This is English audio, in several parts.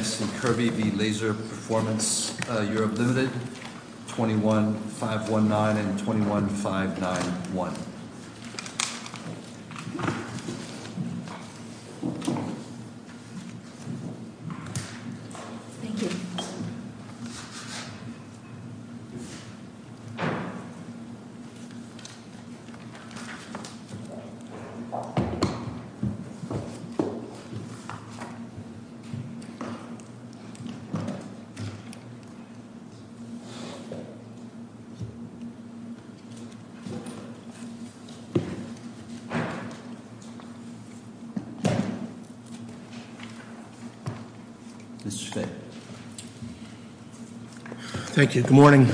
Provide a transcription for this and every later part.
21-519 and 21-591 Mr. Fay. Thank you. Good morning.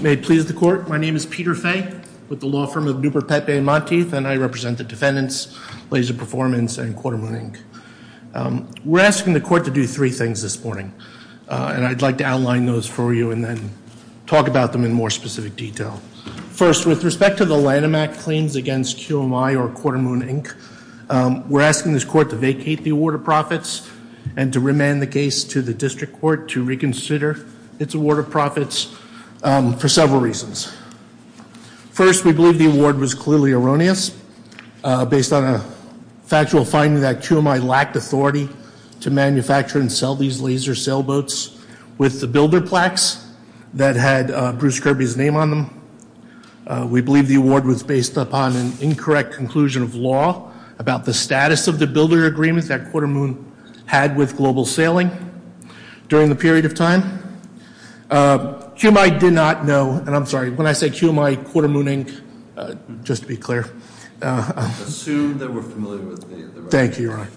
May it please the court, my name is Peter Fay, with the law firm of Duperpepe and Monteith, and I represent the defendants, LaserPerformance and Quarter Moon, Inc. We're asking the court to do three things this morning, and I'd like to outline those for you and then talk about them in more specific detail. First, with respect to the Lanham Act claims against QMI or Quarter Moon, Inc., we're asking this court to vacate the Award of Profits and to remand the case to the district court to reconsider its Award of Profits for several reasons. First, we believe the award was clearly erroneous, based on a factual finding that QMI lacked authority to manufacture and sell these laser sailboats with the builder plaques that had Bruce Kirby's name on them. We believe the award was based upon an incorrect conclusion of law about the status of the builder agreements that Quarter Moon had with Global Sailing during the period of time. QMI did not know, and I'm sorry, when I say QMI, Quarter Moon, Inc., just to be clear. Assume that we're familiar with the record. Thank you, Ron.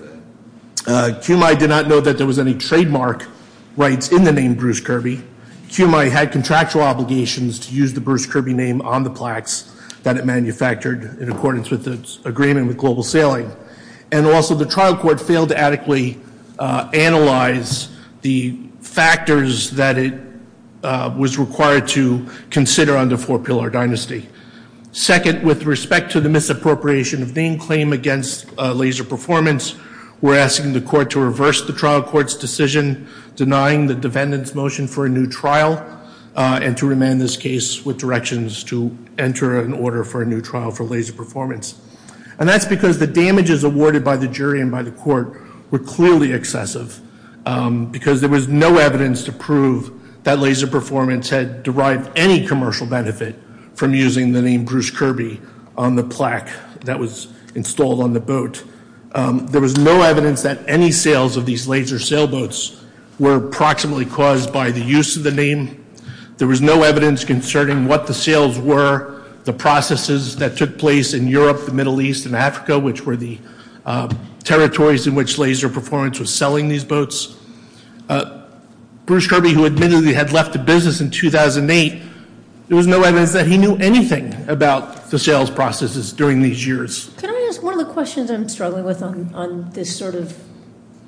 QMI did not know that there was any trademark rights in the name Bruce Kirby. QMI had contractual obligations to use the Bruce Kirby name on the plaques that it manufactured in accordance with its agreement with Global Sailing. And also, the trial court failed to adequately analyze the factors that it was required to consider under Four Pillar Dynasty. Second, with respect to the misappropriation of name claim against laser performance, we're asking the court to reverse the trial court's decision denying the defendant's motion for a new trial and to remand this case with directions to enter an order for a new trial for laser performance. And that's because the damages awarded by the jury and by the court were clearly excessive because there was no evidence to prove that laser performance had derived any commercial benefit from using the name Bruce Kirby on the plaque that was installed on the boat. There was no evidence that any sales of these laser sailboats were proximately caused by the use of the name. There was no evidence concerning what the sales were, the processes that took place in Europe, the Middle East, and Africa, which were the territories in which laser performance was selling these boats. Bruce Kirby, who admittedly had left the business in 2008, there was no evidence that he knew anything about the sales processes during these years. Can I ask one of the questions I'm struggling with on this sort of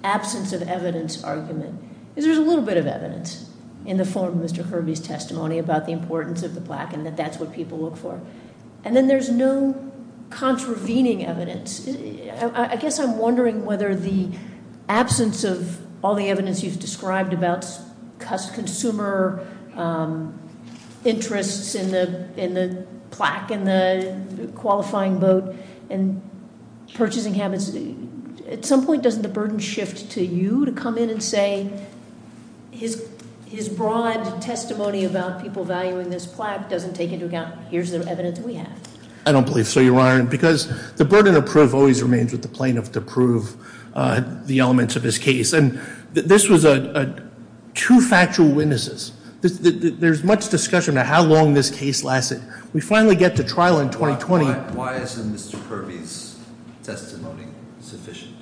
absence of evidence argument? Because there's a little bit of evidence in the form of Mr. Kirby's testimony about the importance of the plaque and that that's what people look for. And then there's no contravening evidence. I guess I'm wondering whether the absence of all the evidence you've described about consumer interests in the plaque and the qualifying boat and purchasing habits, at some point doesn't the burden shift to you to come in and say, his broad testimony about people valuing this plaque doesn't take into account, here's the evidence we have. I don't believe so, Your Honor, because the burden of proof always remains with the plaintiff to prove the elements of his case. And this was a two factual witnesses. There's much discussion of how long this case lasted. We finally get to trial in 2020. Why isn't Mr. Kirby's testimony sufficient?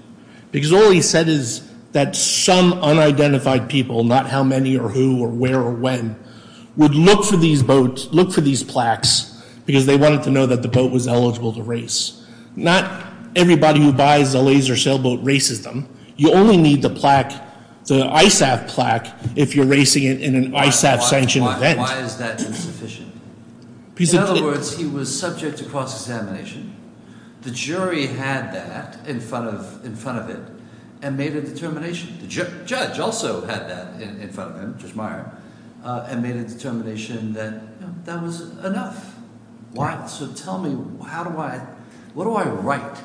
Because all he said is that some unidentified people, not how many or who or where or who would look for these boats, look for these plaques because they wanted to know that the boat was eligible to race. Not everybody who buys a laser sailboat races them. You only need the ISAF plaque if you're racing it in an ISAF sanctioned event. Why is that insufficient? In other words, he was subject to cross examination. The jury had that in front of it and made a determination. The judge also had that in front of him, Judge Meyer, and made a determination that that was enough. Why, so tell me, what do I write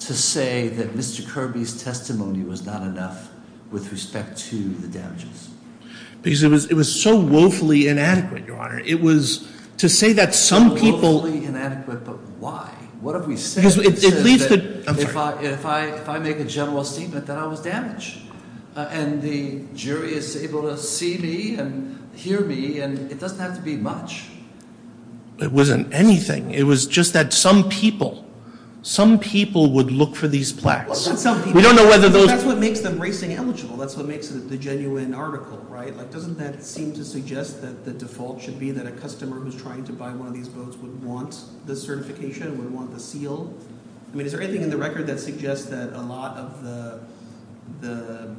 to say that Mr. Kirby's testimony was not enough with respect to the damages? Because it was so woefully inadequate, Your Honor. It was to say that some people- So woefully inadequate, but why? What have we said? Because it leads to, I'm sorry. If I make a general statement that I was damaged, and the jury is able to see me and hear me, and it doesn't have to be much. It wasn't anything. It was just that some people, some people would look for these plaques. Some people- We don't know whether those- That's what makes them racing eligible. That's what makes it the genuine article, right? Doesn't that seem to suggest that the default should be that a customer who's trying to buy one of these boats would want the certification, would want the seal? I mean, is there anything in the record that suggests that a lot of the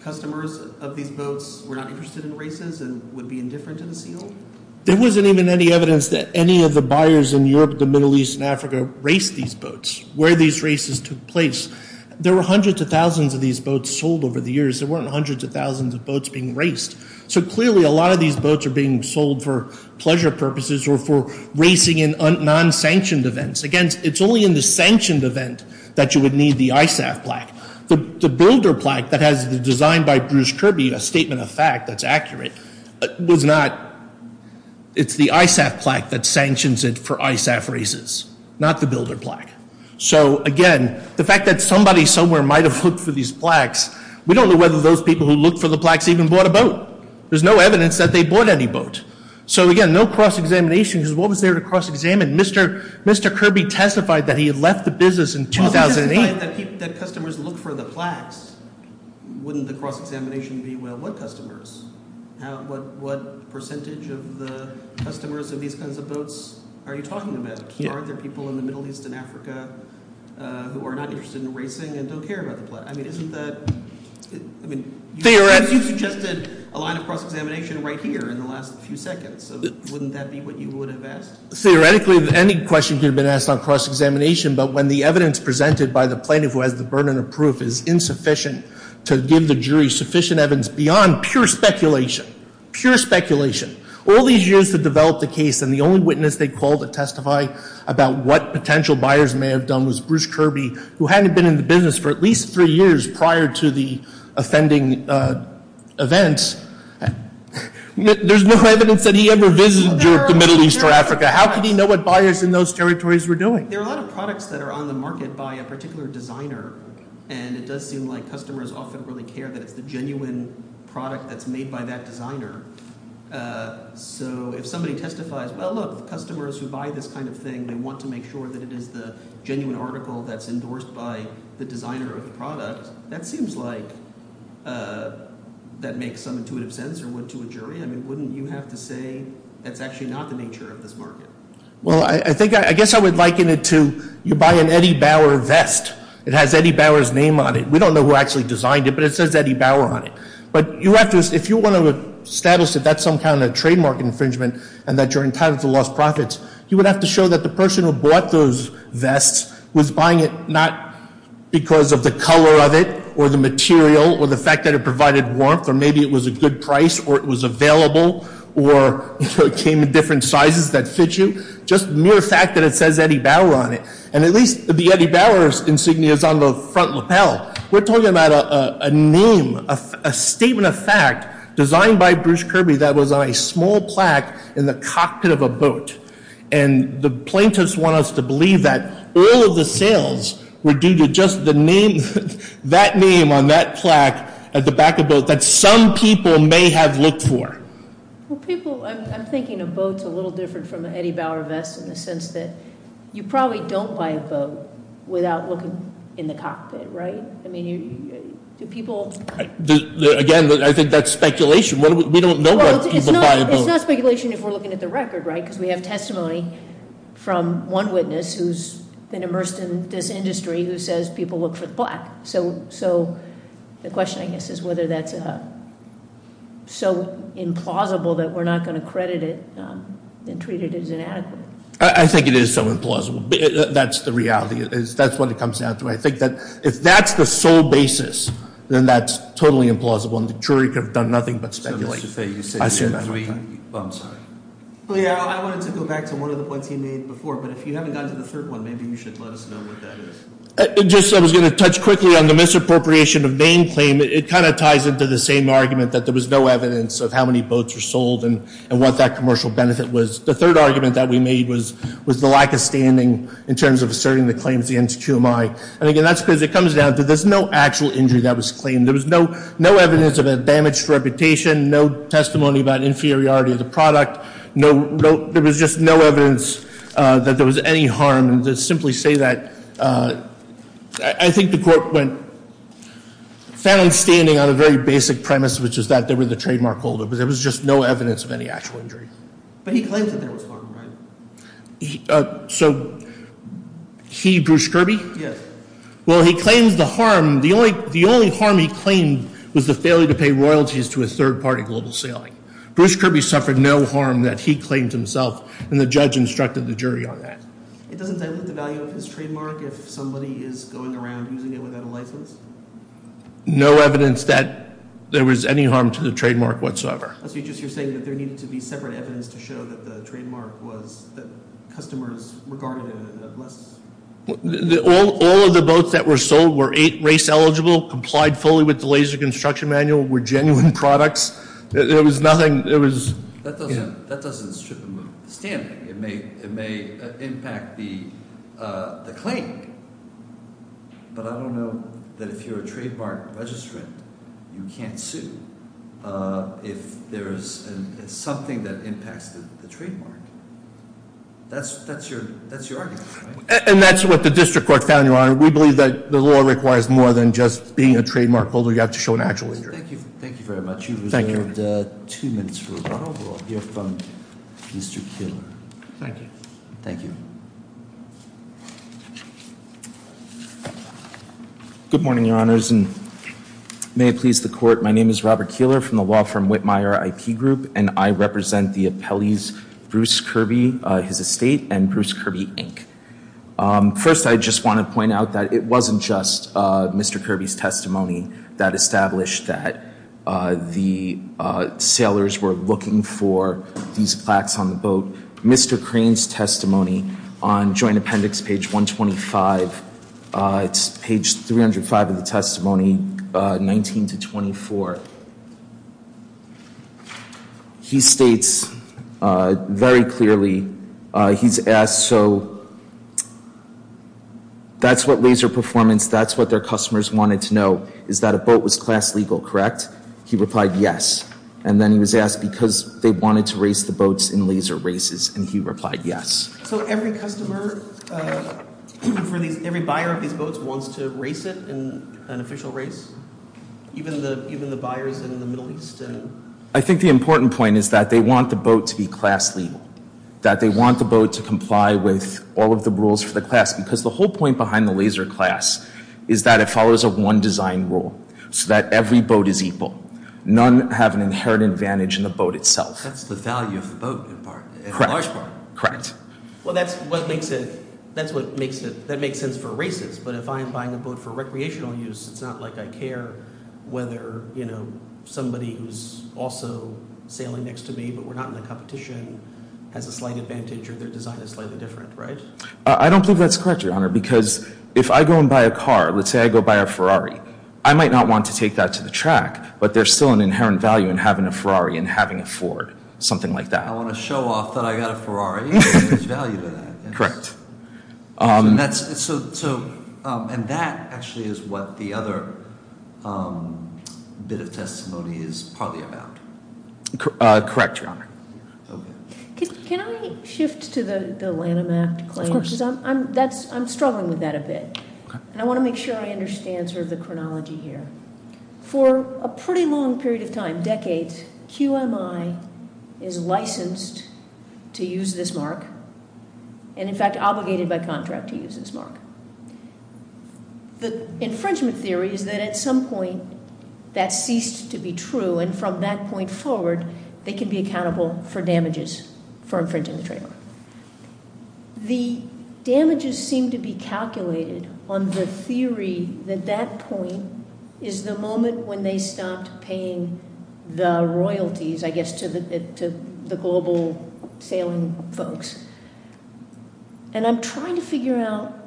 customers of these boats were not interested in races and would be indifferent to the seal? There wasn't even any evidence that any of the buyers in Europe, the Middle East, and Africa raced these boats, where these races took place. There were hundreds of thousands of these boats sold over the years. There weren't hundreds of thousands of boats being raced. So clearly, a lot of these boats are being sold for pleasure purposes or for racing in non-sanctioned events. Again, it's only in the sanctioned event that you would need the ISAF plaque. The builder plaque that has the design by Bruce Kirby, a statement of fact that's accurate, was not. It's the ISAF plaque that sanctions it for ISAF races, not the builder plaque. So again, the fact that somebody somewhere might have looked for these plaques, we don't know whether those people who looked for the plaques even bought a boat. There's no evidence that they bought any boat. So again, no cross-examination, because what was there to cross-examine? Mr. Kirby testified that he had left the business in 2008. He testified that customers looked for the plaques. Wouldn't the cross-examination be, well, what customers? What percentage of the customers of these kinds of boats are you talking about? Are there people in the Middle East and Africa who are not interested in racing and don't care about the plaques? I mean, isn't that, I mean, you suggested a line of cross-examination right here in the last few seconds. So wouldn't that be what you would have asked? Theoretically, any question could have been asked on cross-examination, but when the evidence presented by the plaintiff who has the burden of proof is insufficient to give the jury sufficient evidence beyond pure speculation, pure speculation. All these years to develop the case, and the only witness they called to testify about what potential buyers may have done was Bruce Kirby, who hadn't been in the business for at least three years prior to the offending event. There's no evidence that he ever visited the Middle East or Africa. How could he know what buyers in those territories were doing? There are a lot of products that are on the market by a particular designer, and it does seem like customers often really care that it's the genuine product that's made by that designer. So if somebody testifies, well, look, customers who buy this kind of thing, they want to make sure that it is the genuine article that's endorsed by the designer of the product. That seems like that makes some intuitive sense or would to a jury. I mean, wouldn't you have to say that's actually not the nature of this market? Well, I think, I guess I would liken it to you buy an Eddie Bauer vest. It has Eddie Bauer's name on it. We don't know who actually designed it, but it says Eddie Bauer on it. But you have to, if you want to establish that that's some kind of trademark infringement and that you're entitled to lost profits, you would have to show that the person who bought those vests was buying it not because of the color of it or the material or the fact that it provided warmth or maybe it was a good price or it was available or it came in different sizes that fit you, just mere fact that it says Eddie Bauer on it. And at least the Eddie Bauer's insignia is on the front lapel. We're talking about a name, a statement of fact designed by Bruce Kirby that was on a small plaque in the cockpit of a boat. And the plaintiffs want us to believe that all of the sales were due to just the name, that name on that plaque at the back of the boat that some people may have looked for. Well, people, I'm thinking a boat's a little different from an Eddie Bauer vest in the sense that you probably don't buy a boat without looking in the cockpit, right? I mean, do people- Again, I think that's speculation. We don't know why people buy a boat. It's not speculation if we're looking at the record, right? because we have testimony from one witness who's been immersed in this industry who says people look for the plaque. So the question I guess is whether that's so implausible that we're not going to credit it and treat it as inadequate. I think it is so implausible. That's the reality. That's what it comes down to. I think that if that's the sole basis, then that's totally implausible and the jury could have done nothing but speculate. I'm sorry. Yeah, I wanted to go back to one of the points he made before, but if you haven't gotten to the third one, maybe you should let us know what that is. Just, I was going to touch quickly on the misappropriation of name claim. It kind of ties into the same argument that there was no evidence of how many boats were sold and what that commercial benefit was. The third argument that we made was the lack of standing in terms of asserting the claims against QMI. And again, that's because it comes down to there's no actual injury that was claimed. There was no evidence of a damaged reputation, no testimony about inferiority of the product. There was just no evidence that there was any harm. And to simply say that, I think the court found standing on a very basic premise, which is that they were the trademark holder, but there was just no evidence of any actual injury. But he claims that there was harm, right? So he, Bruce Kirby? Yes. Well, he claims the harm, the only harm he claimed was the failure to pay royalties to a third party global sailing. Bruce Kirby suffered no harm that he claimed himself, and the judge instructed the jury on that. It doesn't dilute the value of his trademark if somebody is going around using it without a license? No evidence that there was any harm to the trademark whatsoever. So you're just saying that there needed to be separate evidence to show that the trademark was, that customers regarded it as a blessing? All of the boats that were sold were eight race eligible, complied fully with the laser construction manual, were genuine products. There was nothing, it was- That doesn't strip him of the standing. It may impact the claim. But I don't know that if you're a trademark registrant, you can't sue. If there's something that impacts the trademark. That's your argument, right? And that's what the district court found, your honor. We believe that the law requires more than just being a trademark holder. You have to show an actual injury. Thank you very much. You've reserved two minutes for rebuttal. We'll hear from Mr. Killer. Thank you. Thank you. Good morning, your honors, and may it please the court. My name is Robert Keeler from the law firm Whitmire IP Group, and I represent the appellees, Bruce Kirby, his estate, and Bruce Kirby, Inc. First, I just want to point out that it wasn't just Mr. Kirby's testimony that established that the sailors were looking for these plaques on the boat. Mr. Crane's testimony on joint appendix page 125, it's page 305 of the testimony, 19 to 24. He states very clearly, he's asked, so that's what laser performance, that's what their customers wanted to know, is that a boat was class legal, correct? He replied yes. And then he was asked because they wanted to race the boats in laser races, and he replied yes. So every customer, every buyer of these boats wants to race it in an official race? Even the buyers in the Middle East? I think the important point is that they want the boat to be class legal. That they want the boat to comply with all of the rules for the class, because the whole point behind the laser class is that it follows a one design rule, so that every boat is equal. None have an inherent advantage in the boat itself. That's the value of the boat in part, in large part. Correct. Well, that's what makes it, that makes sense for races, but if I'm buying a boat for recreational use, it's not like I care whether somebody who's also sailing next to me, but we're not in the competition, has a slight advantage or their design is slightly different, right? I don't think that's correct, Your Honor, because if I go and buy a car, let's say I go buy a Ferrari. I might not want to take that to the track, but there's still an inherent value in having a Ferrari and having a Ford, something like that. I want to show off that I got a Ferrari, and there's value to that. Correct. And that actually is what the other bit of testimony is partly about. Correct, Your Honor. Can I shift to the Lanham Act claim? Of course. I'm struggling with that a bit. And I want to make sure I understand sort of the chronology here. For a pretty long period of time, decades, QMI is licensed to use this mark, and in fact, obligated by contract to use this mark. The infringement theory is that at some point that ceased to be true, and from that point forward, they can be accountable for damages for infringing the trademark. The damages seem to be calculated on the theory that that point is the moment when they stopped paying the royalties, I guess, to the global sailing folks. And I'm trying to figure out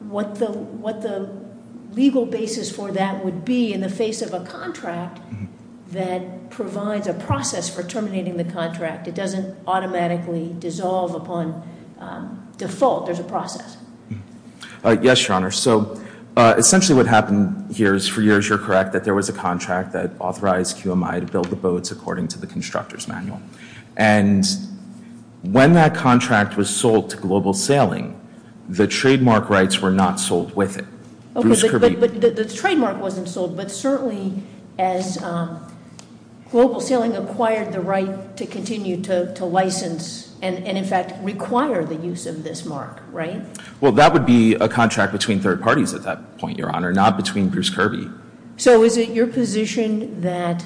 what the legal basis for that would be in the face of a contract that provides a process for terminating the contract. It doesn't automatically dissolve upon default. There's a process. Yes, Your Honor. So essentially what happened here is for years, you're correct, that there was a contract that authorized QMI to build the boats according to the constructor's manual. And when that contract was sold to Global Sailing, the trademark rights were not sold with it. Bruce Kirby. But the trademark wasn't sold, but certainly as Global Sailing acquired the right to continue to license, and in fact, require the use of this mark, right? Well, that would be a contract between third parties at that point, Your Honor, not between Bruce Kirby. So is it your position that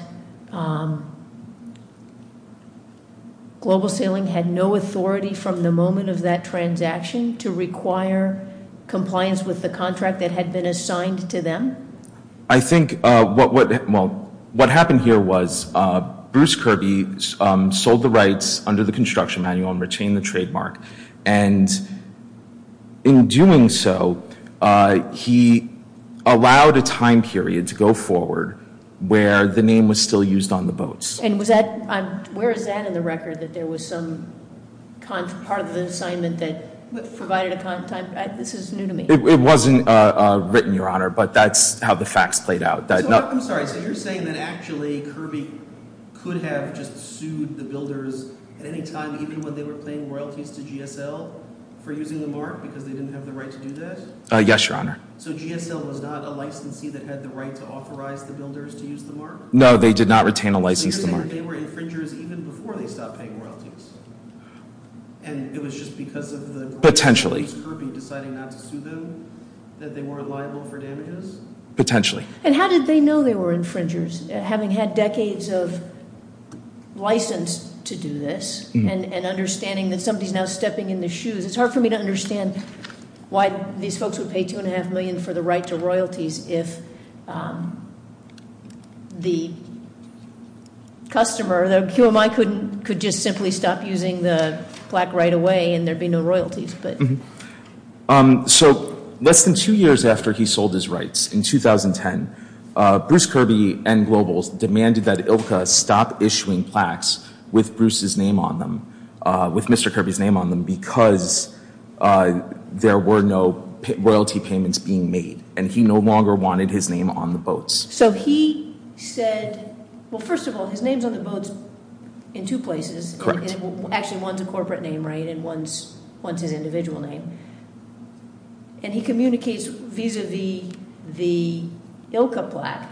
Global Sailing had no authority from the moment of that transaction to require compliance with the contract that had been assigned to them? I think what happened here was Bruce Kirby sold the rights under the construction manual and retained the trademark. And in doing so, he allowed a time period to go forward where the name was still used on the boats. And where is that in the record, that there was some part of the assignment that provided a time, this is new to me. It wasn't written, Your Honor, but that's how the facts played out. I'm sorry, so you're saying that actually Kirby could have just sued the builders at any time, even when they were paying royalties to GSL for using the mark, because they didn't have the right to do that? Yes, Your Honor. So GSL was not a licensee that had the right to authorize the builders to use the mark? No, they did not retain a license to mark. So you're saying that they were infringers even before they stopped paying royalties? And it was just because of the- Potentially. Bruce Kirby deciding not to sue them, that they were liable for damages? Potentially. And how did they know they were infringers, having had decades of license to do this? And understanding that somebody's now stepping in the shoes. It's hard for me to understand why these folks would pay two and a half million for the right to royalties if the customer, the QMI could just simply stop using the plaque right away and there'd be no royalties. But- So less than two years after he sold his rights, in 2010, Bruce Kirby and Globals demanded that ILCA stop issuing plaques with Bruce's name on them, with Mr. Kirby's name on them, because there were no royalty payments being made. And he no longer wanted his name on the boats. So he said, well, first of all, his name's on the boats in two places. Correct. Actually, one's a corporate name, right, and one's his individual name. And he communicates vis-a-vis the ILCA plaque.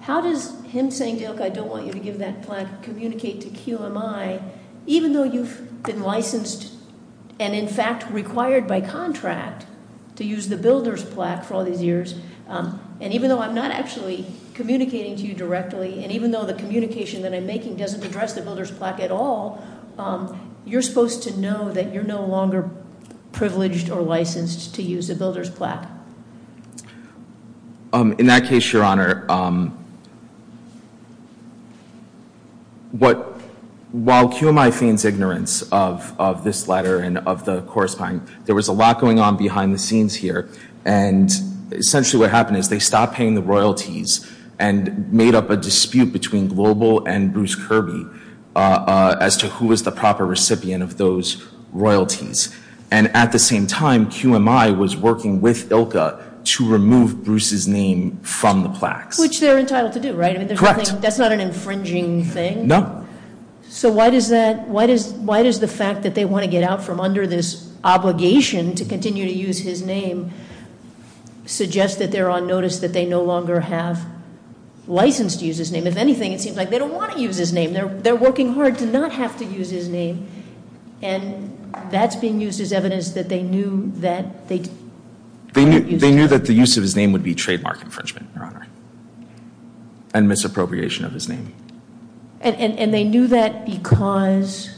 How does him saying to ILCA, I don't want you to give that plaque, communicate to QMI, even though you've been licensed and in fact required by contract to use the builder's plaque for all these years. And even though I'm not actually communicating to you directly, and even though the communication that I'm making doesn't address the builder's plaque at all, you're supposed to know that you're no longer privileged or licensed to use the builder's plaque. In that case, your honor, while QMI feigns ignorance of this letter and of the corresponding, there was a lot going on behind the scenes here. And essentially what happened is they stopped paying the royalties and made up a dispute between Global and Bruce Kirby as to who was the proper recipient of those royalties. And at the same time, QMI was working with ILCA to remove Bruce's name from the plaques. Which they're entitled to do, right? Correct. That's not an infringing thing. No. So why does the fact that they want to get out from under this obligation to continue to use his name suggest that they're on notice that they no longer have license to use his name? If anything, it seems like they don't want to use his name. They're working hard to not have to use his name. And that's being used as evidence that they knew that they- They knew that the use of his name would be trademark infringement, your honor, and misappropriation of his name. And they knew that because?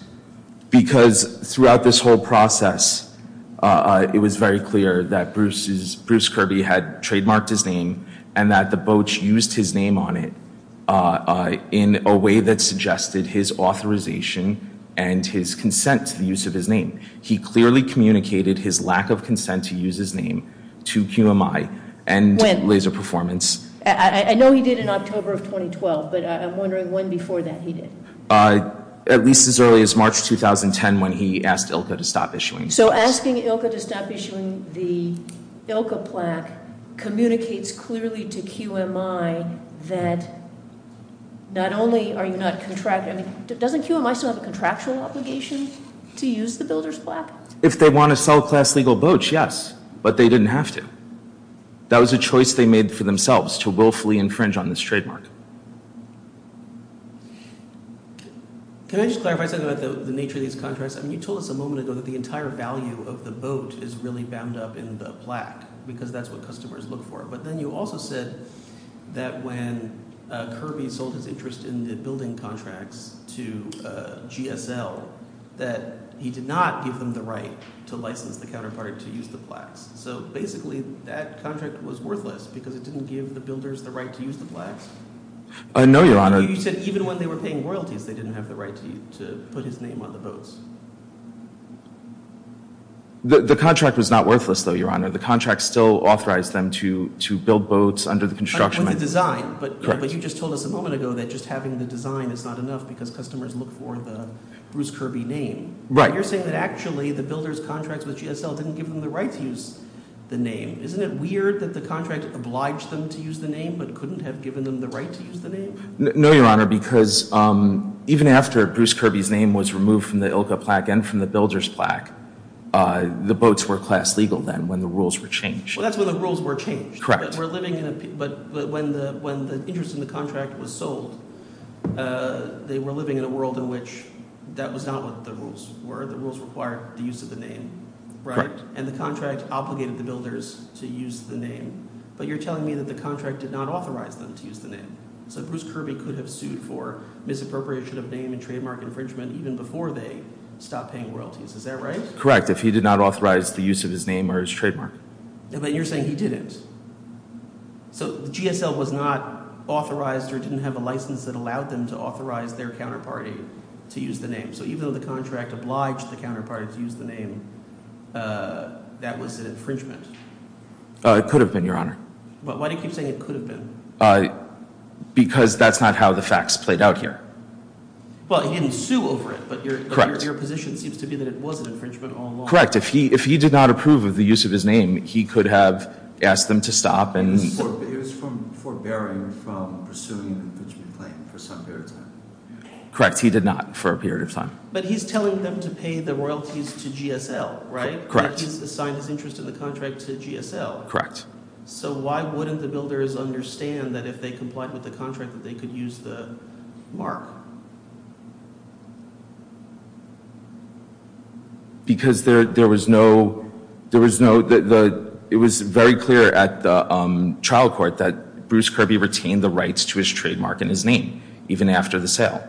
Because throughout this whole process, it was very clear that Bruce Kirby had trademarked his name and that the Boche used his name on it in a way that suggested his authorization. And his consent to the use of his name. He clearly communicated his lack of consent to use his name to QMI and laser performance. I know he did in October of 2012, but I'm wondering when before that he did. At least as early as March 2010 when he asked ILCA to stop issuing. So asking ILCA to stop issuing the ILCA plaque communicates clearly to QMI that not only are you not contracting, I mean, doesn't QMI still have a contractual obligation to use the builder's plaque? If they want to sell class legal boats, yes, but they didn't have to. That was a choice they made for themselves to willfully infringe on this trademark. Can I just clarify something about the nature of these contracts? I mean, you told us a moment ago that the entire value of the boat is really bound up in the plaque because that's what customers look for. But then you also said that when Kirby sold his interest in the building contracts to GSL, that he did not give them the right to license the counterpart to use the plaques. So basically, that contract was worthless because it didn't give the builders the right to use the plaques. No, Your Honor. You said even when they were paying royalties, they didn't have the right to put his name on the boats. The contract was not worthless, though, Your Honor. The contract still authorized them to build boats under the construction. With the design, but you just told us a moment ago that just having the design is not enough because customers look for the Bruce Kirby name. Right. But you're saying that actually the builders' contracts with GSL didn't give them the right to use the name. Isn't it weird that the contract obliged them to use the name but couldn't have given them the right to use the name? No, Your Honor, because even after Bruce Kirby's name was removed from the ILCA plaque and from the builder's plaque, the boats were class legal then when the rules were changed. Well, that's when the rules were changed. Correct. But when the interest in the contract was sold, they were living in a world in which that was not what the rules were. The rules required the use of the name, right? And the contract obligated the builders to use the name. But you're telling me that the contract did not authorize them to use the name. So Bruce Kirby could have sued for misappropriation of name and trademark infringement even before they stopped paying royalties. Is that right? Correct, if he did not authorize the use of his name or his trademark. But you're saying he didn't. So GSL was not authorized or didn't have a license that allowed them to authorize their counterparty to use the name. So even though the contract obliged the counterparty to use the name, that was an infringement. It could have been, Your Honor. But why do you keep saying it could have been? Because that's not how the facts played out here. Well, he didn't sue over it, but your position seems to be that it was an infringement all along. Correct, if he did not approve of the use of his name, he could have asked them to stop and- It was forbearing from pursuing an infringement claim for some period of time. Correct, he did not for a period of time. But he's telling them to pay the royalties to GSL, right? Correct. He's assigned his interest in the contract to GSL. Correct. So why wouldn't the builders understand that if they complied with the contract that they could use the mark? Because there was no, it was very clear at the trial court that Bruce Kirby retained the rights to his trademark and his name, even after the sale.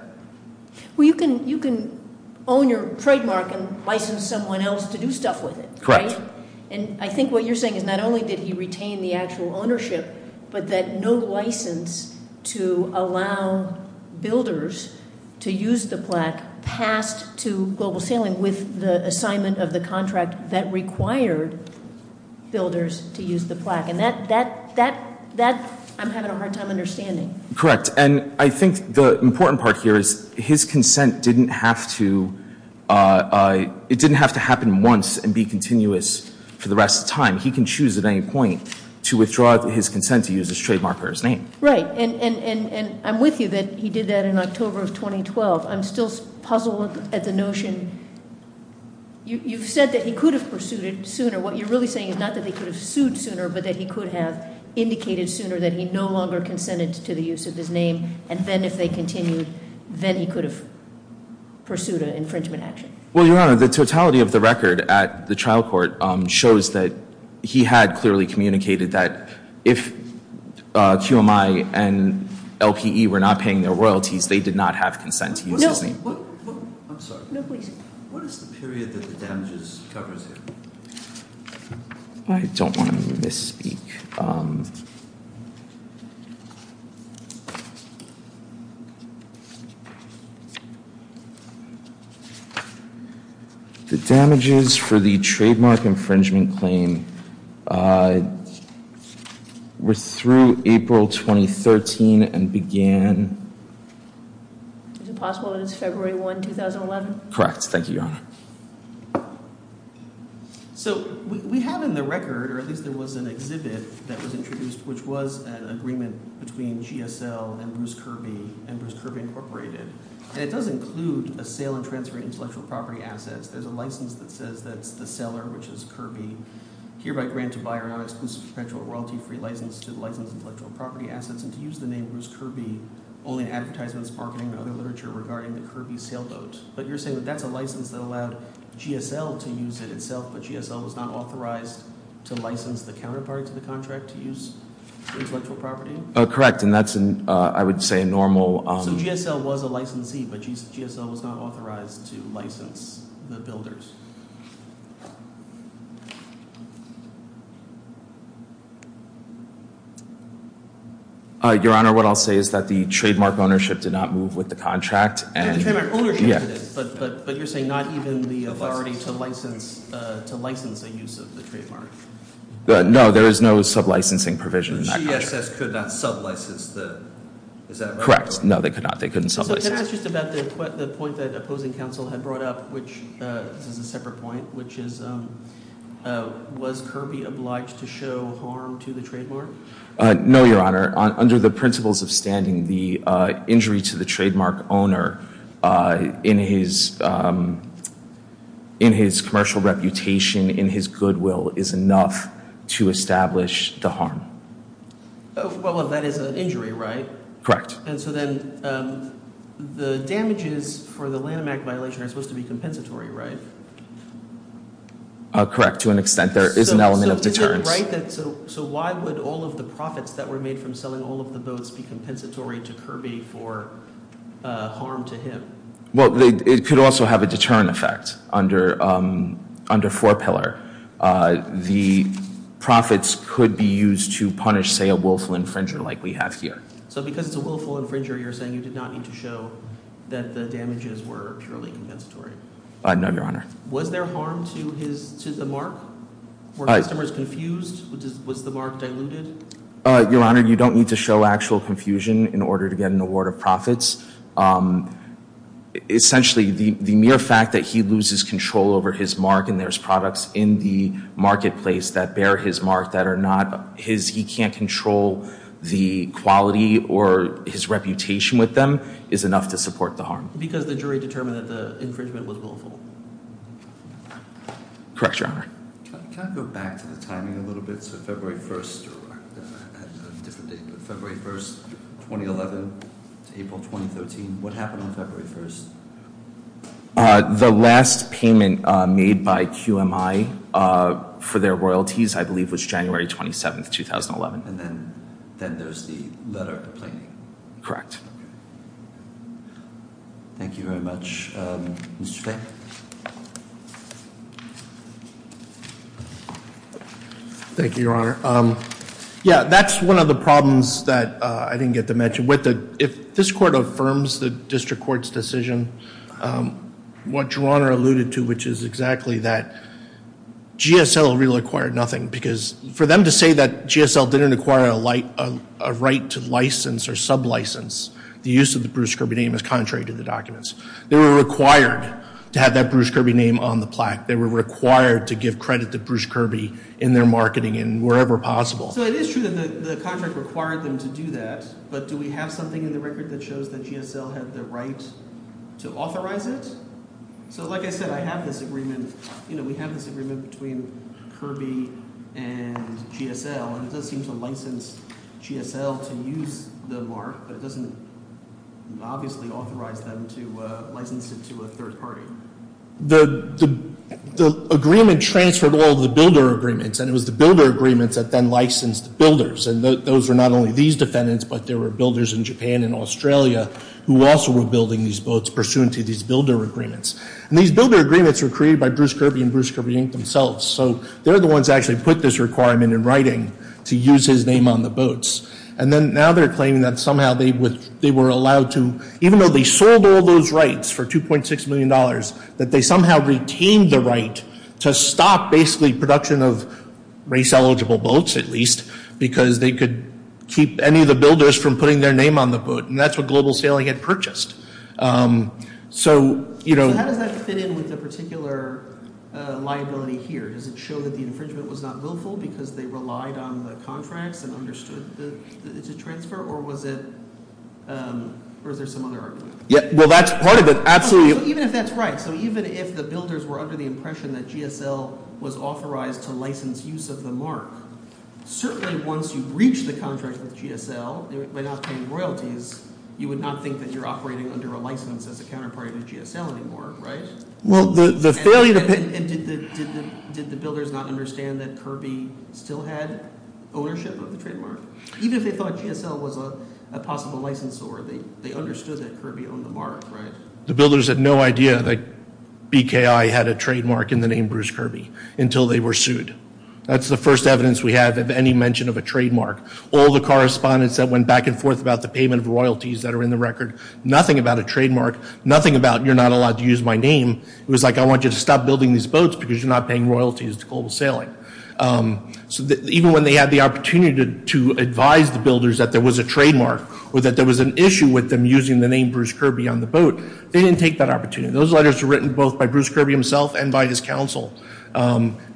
Well, you can own your trademark and license someone else to do stuff with it. Correct. Right, and I think what you're saying is not only did he retain the actual ownership, but that no license to allow builders to use the plaque passed to Global Sailing with the assignment of the contract that required builders to use the plaque. And that, I'm having a hard time understanding. Correct, and I think the important part here is his consent didn't have to, it didn't have to happen once and be continuous for the rest of the time. He can choose at any point to withdraw his consent to use his trademark or his name. Right, and I'm with you that he did that in October of 2012. I'm still puzzled at the notion, you've said that he could have pursued it sooner. What you're really saying is not that he could have sued sooner, but that he could have indicated sooner that he no longer consented to the use of his name. And then if they continued, then he could have pursued an infringement action. Well, Your Honor, the totality of the record at the trial court shows that he had clearly communicated that if QMI and LPE were not paying their royalties, they did not have consent to use his name. No. I'm sorry. No, please. What is the period that the damages covers here? I don't want to misspeak. The damages for the trademark infringement claim were through April 2013 and began. Is it possible that it's February 1, 2011? Correct, thank you, Your Honor. So we have in the record, or at least there was an exhibit that was introduced, which was an agreement between GSL and Bruce Kirby and Bruce Kirby Incorporated. And it does include a sale and transfer intellectual property assets. There's a license that says that's the seller, which is Kirby, hereby grant to buy or not exclusive to perpetual royalty free license to license intellectual property assets and to use the name Bruce Kirby only in advertisements, marketing, or other literature regarding the Kirby sailboat. But you're saying that that's a license that allowed GSL to use it itself, but GSL was not authorized to license the counterparty to the contract to use intellectual property? Correct, and that's, I would say, a normal- So GSL was a licensee, but GSL was not authorized to license the builders? Your Honor, what I'll say is that the trademark ownership did not move with the contract. The trademark ownership did, but you're saying not even the authority to license a use of the trademark? No, there is no sub-licensing provision in that contract. The GSS could not sub-license the, is that right? Correct, no, they could not, they couldn't sub-license. So can I ask just about the point that opposing counsel had brought up, which is a separate point, No, Your Honor, under the principles of standing, the injury to the trademark owner in his commercial reputation, in his goodwill, is enough to establish the harm. Well, that is an injury, right? Correct. And so then the damages for the Lanham Act violation are supposed to be compensatory, right? Correct, to an extent. There is an element of deterrence. So why would all of the profits that were made from selling all of the boats be compensatory to Kirby for harm to him? Well, it could also have a deterrent effect under four pillar. The profits could be used to punish, say, a willful infringer like we have here. So because it's a willful infringer, you're saying you did not need to show that the damages were purely compensatory? No, Your Honor. Was there harm to the mark? Were customers confused? Was the mark diluted? Your Honor, you don't need to show actual confusion in order to get an award of profits. Essentially, the mere fact that he loses control over his mark and there's products in the marketplace that bear his mark that are not his, he can't control the quality or his reputation with them, is enough to support the harm. Because the jury determined that the infringement was willful. Correct, Your Honor. Can I go back to the timing a little bit? So February 1st, or a different date, but February 1st, 2011 to April 2013, what happened on February 1st? The last payment made by QMI for their royalties, I believe, was January 27th, 2011. And then there's the letter of complaining. Correct. Thank you very much. Mr. Fay? Thank you, Your Honor. Yeah, that's one of the problems that I didn't get to mention. If this court affirms the district court's decision, what Your Honor alluded to, which is exactly that, GSL really acquired nothing. Because for them to say that GSL didn't acquire a right to license or sub-license the use of the Bruce Kirby name is contrary to the documents. They were required to have that Bruce Kirby name on the plaque. They were required to give credit to Bruce Kirby in their marketing and wherever possible. So it is true that the contract required them to do that. But do we have something in the record that shows that GSL had the right to authorize it? So like I said, I have this agreement. We have this agreement between Kirby and GSL. And it does seem to license GSL to use the mark. But it doesn't obviously authorize them to license it to a third party. The agreement transferred all of the builder agreements. And it was the builder agreements that then licensed the builders. And those were not only these defendants, but there were builders in Japan and Australia who also were building these boats pursuant to these builder agreements. And these builder agreements were created by Bruce Kirby and Bruce Kirby, Inc. themselves. So they're the ones that actually put this requirement in writing to use his name on the boats. And then now they're claiming that somehow they were allowed to, even though they sold all those rights for $2.6 million, that they somehow retained the right to stop basically production of race eligible boats at least, because they could keep any of the builders from putting their name on the boat. And that's what Global Sailing had purchased. So- So how does that fit in with the particular liability here? Does it show that the infringement was not willful because they relied on the contracts and understood the transfer? Or was it, or is there some other argument? Yeah, well that's part of it, absolutely. Even if that's right. So even if the builders were under the impression that GSL was authorized to license use of the mark, certainly once you've reached the contract with GSL, by not paying royalties, you would not think that you're operating under a license as a counterpart of a GSL anymore, right? Well, the failure to pay- And did the builders not understand that Kirby still had ownership of the trademark? Even if they thought GSL was a possible licensor, they understood that Kirby owned the mark, right? The builders had no idea that BKI had a trademark in the name Bruce Kirby until they were sued. That's the first evidence we have of any mention of a trademark. All the correspondence that went back and forth about the payment of royalties that are in the record, nothing about a trademark, nothing about you're not allowed to use my name, it was like I want you to stop building these boats because you're not paying royalties to global sailing. So even when they had the opportunity to advise the builders that there was a trademark or that there was an issue with them using the name Bruce Kirby on the boat, they didn't take that opportunity. Those letters were written both by Bruce Kirby himself and by his counsel.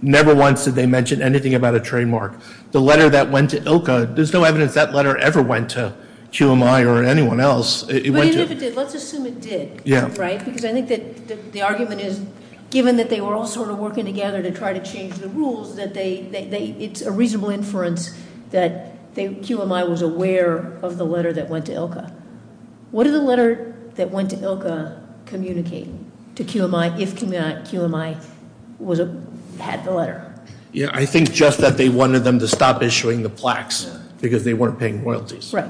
Never once did they mention anything about a trademark. The letter that went to ILCA, there's no evidence that letter ever went to QMI or anyone else. It went to- But even if it did, let's assume it did, right? Because I think that the argument is, given that they were all sort of working together to try to change the rules, that it's a reasonable inference that QMI was aware of the letter that went to ILCA. What did the letter that went to ILCA communicate to QMI if QMI had the letter? Yeah, I think just that they wanted them to stop issuing the plaques because they weren't paying royalties. Right,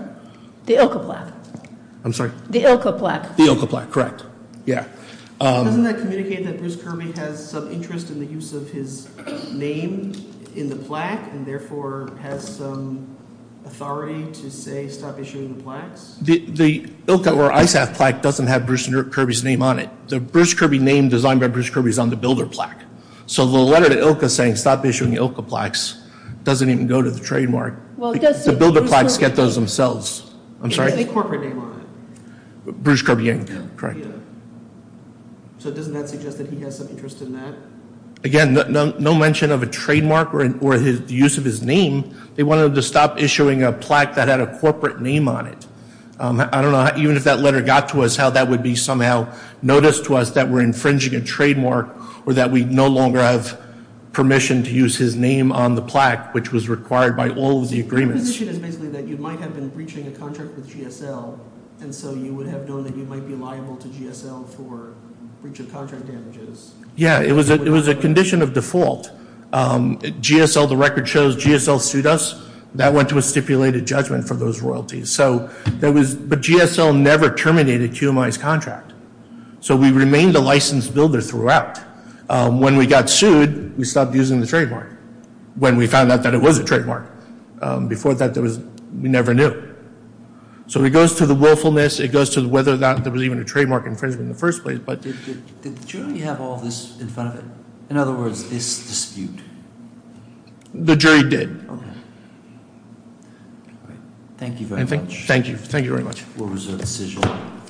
the ILCA plaque. I'm sorry? The ILCA plaque. The ILCA plaque, correct. Yeah. Doesn't that communicate that Bruce Kirby has some interest in the use of his name in the plaque and therefore has some authority to say stop issuing the plaques? The ILCA or ISAF plaque doesn't have Bruce Kirby's name on it. The Bruce Kirby name designed by Bruce Kirby is on the builder plaque. So the letter to ILCA saying stop issuing ILCA plaques doesn't even go to the trademark. The builder plaques get those themselves. I'm sorry? It has a corporate name on it. Bruce Kirby Inc., correct. Yeah. So doesn't that suggest that he has some interest in that? Again, no mention of a trademark or the use of his name. They wanted to stop issuing a plaque that had a corporate name on it. I don't know, even if that letter got to us, how that would be somehow noticed to us that we're infringing a trademark or that we no longer have permission to use his name on the plaque, which was required by all of the agreements. Your position is basically that you might have been breaching a contract with GSL, and so you would have known that you might be liable to GSL for breach of contract damages. Yeah, it was a condition of default. GSL, the record shows, GSL sued us. That went to a stipulated judgment for those royalties. But GSL never terminated QMI's contract. So we remained a licensed builder throughout. When we got sued, we stopped using the trademark. When we found out that it was a trademark. Before that, we never knew. So it goes to the willfulness. It goes to whether or not there was even a trademark infringement in the first place. But- Did the jury have all this in front of it? In other words, this dispute? The jury did. Okay. Thank you very much. Thank you. Thank you very much. We'll reserve the decision.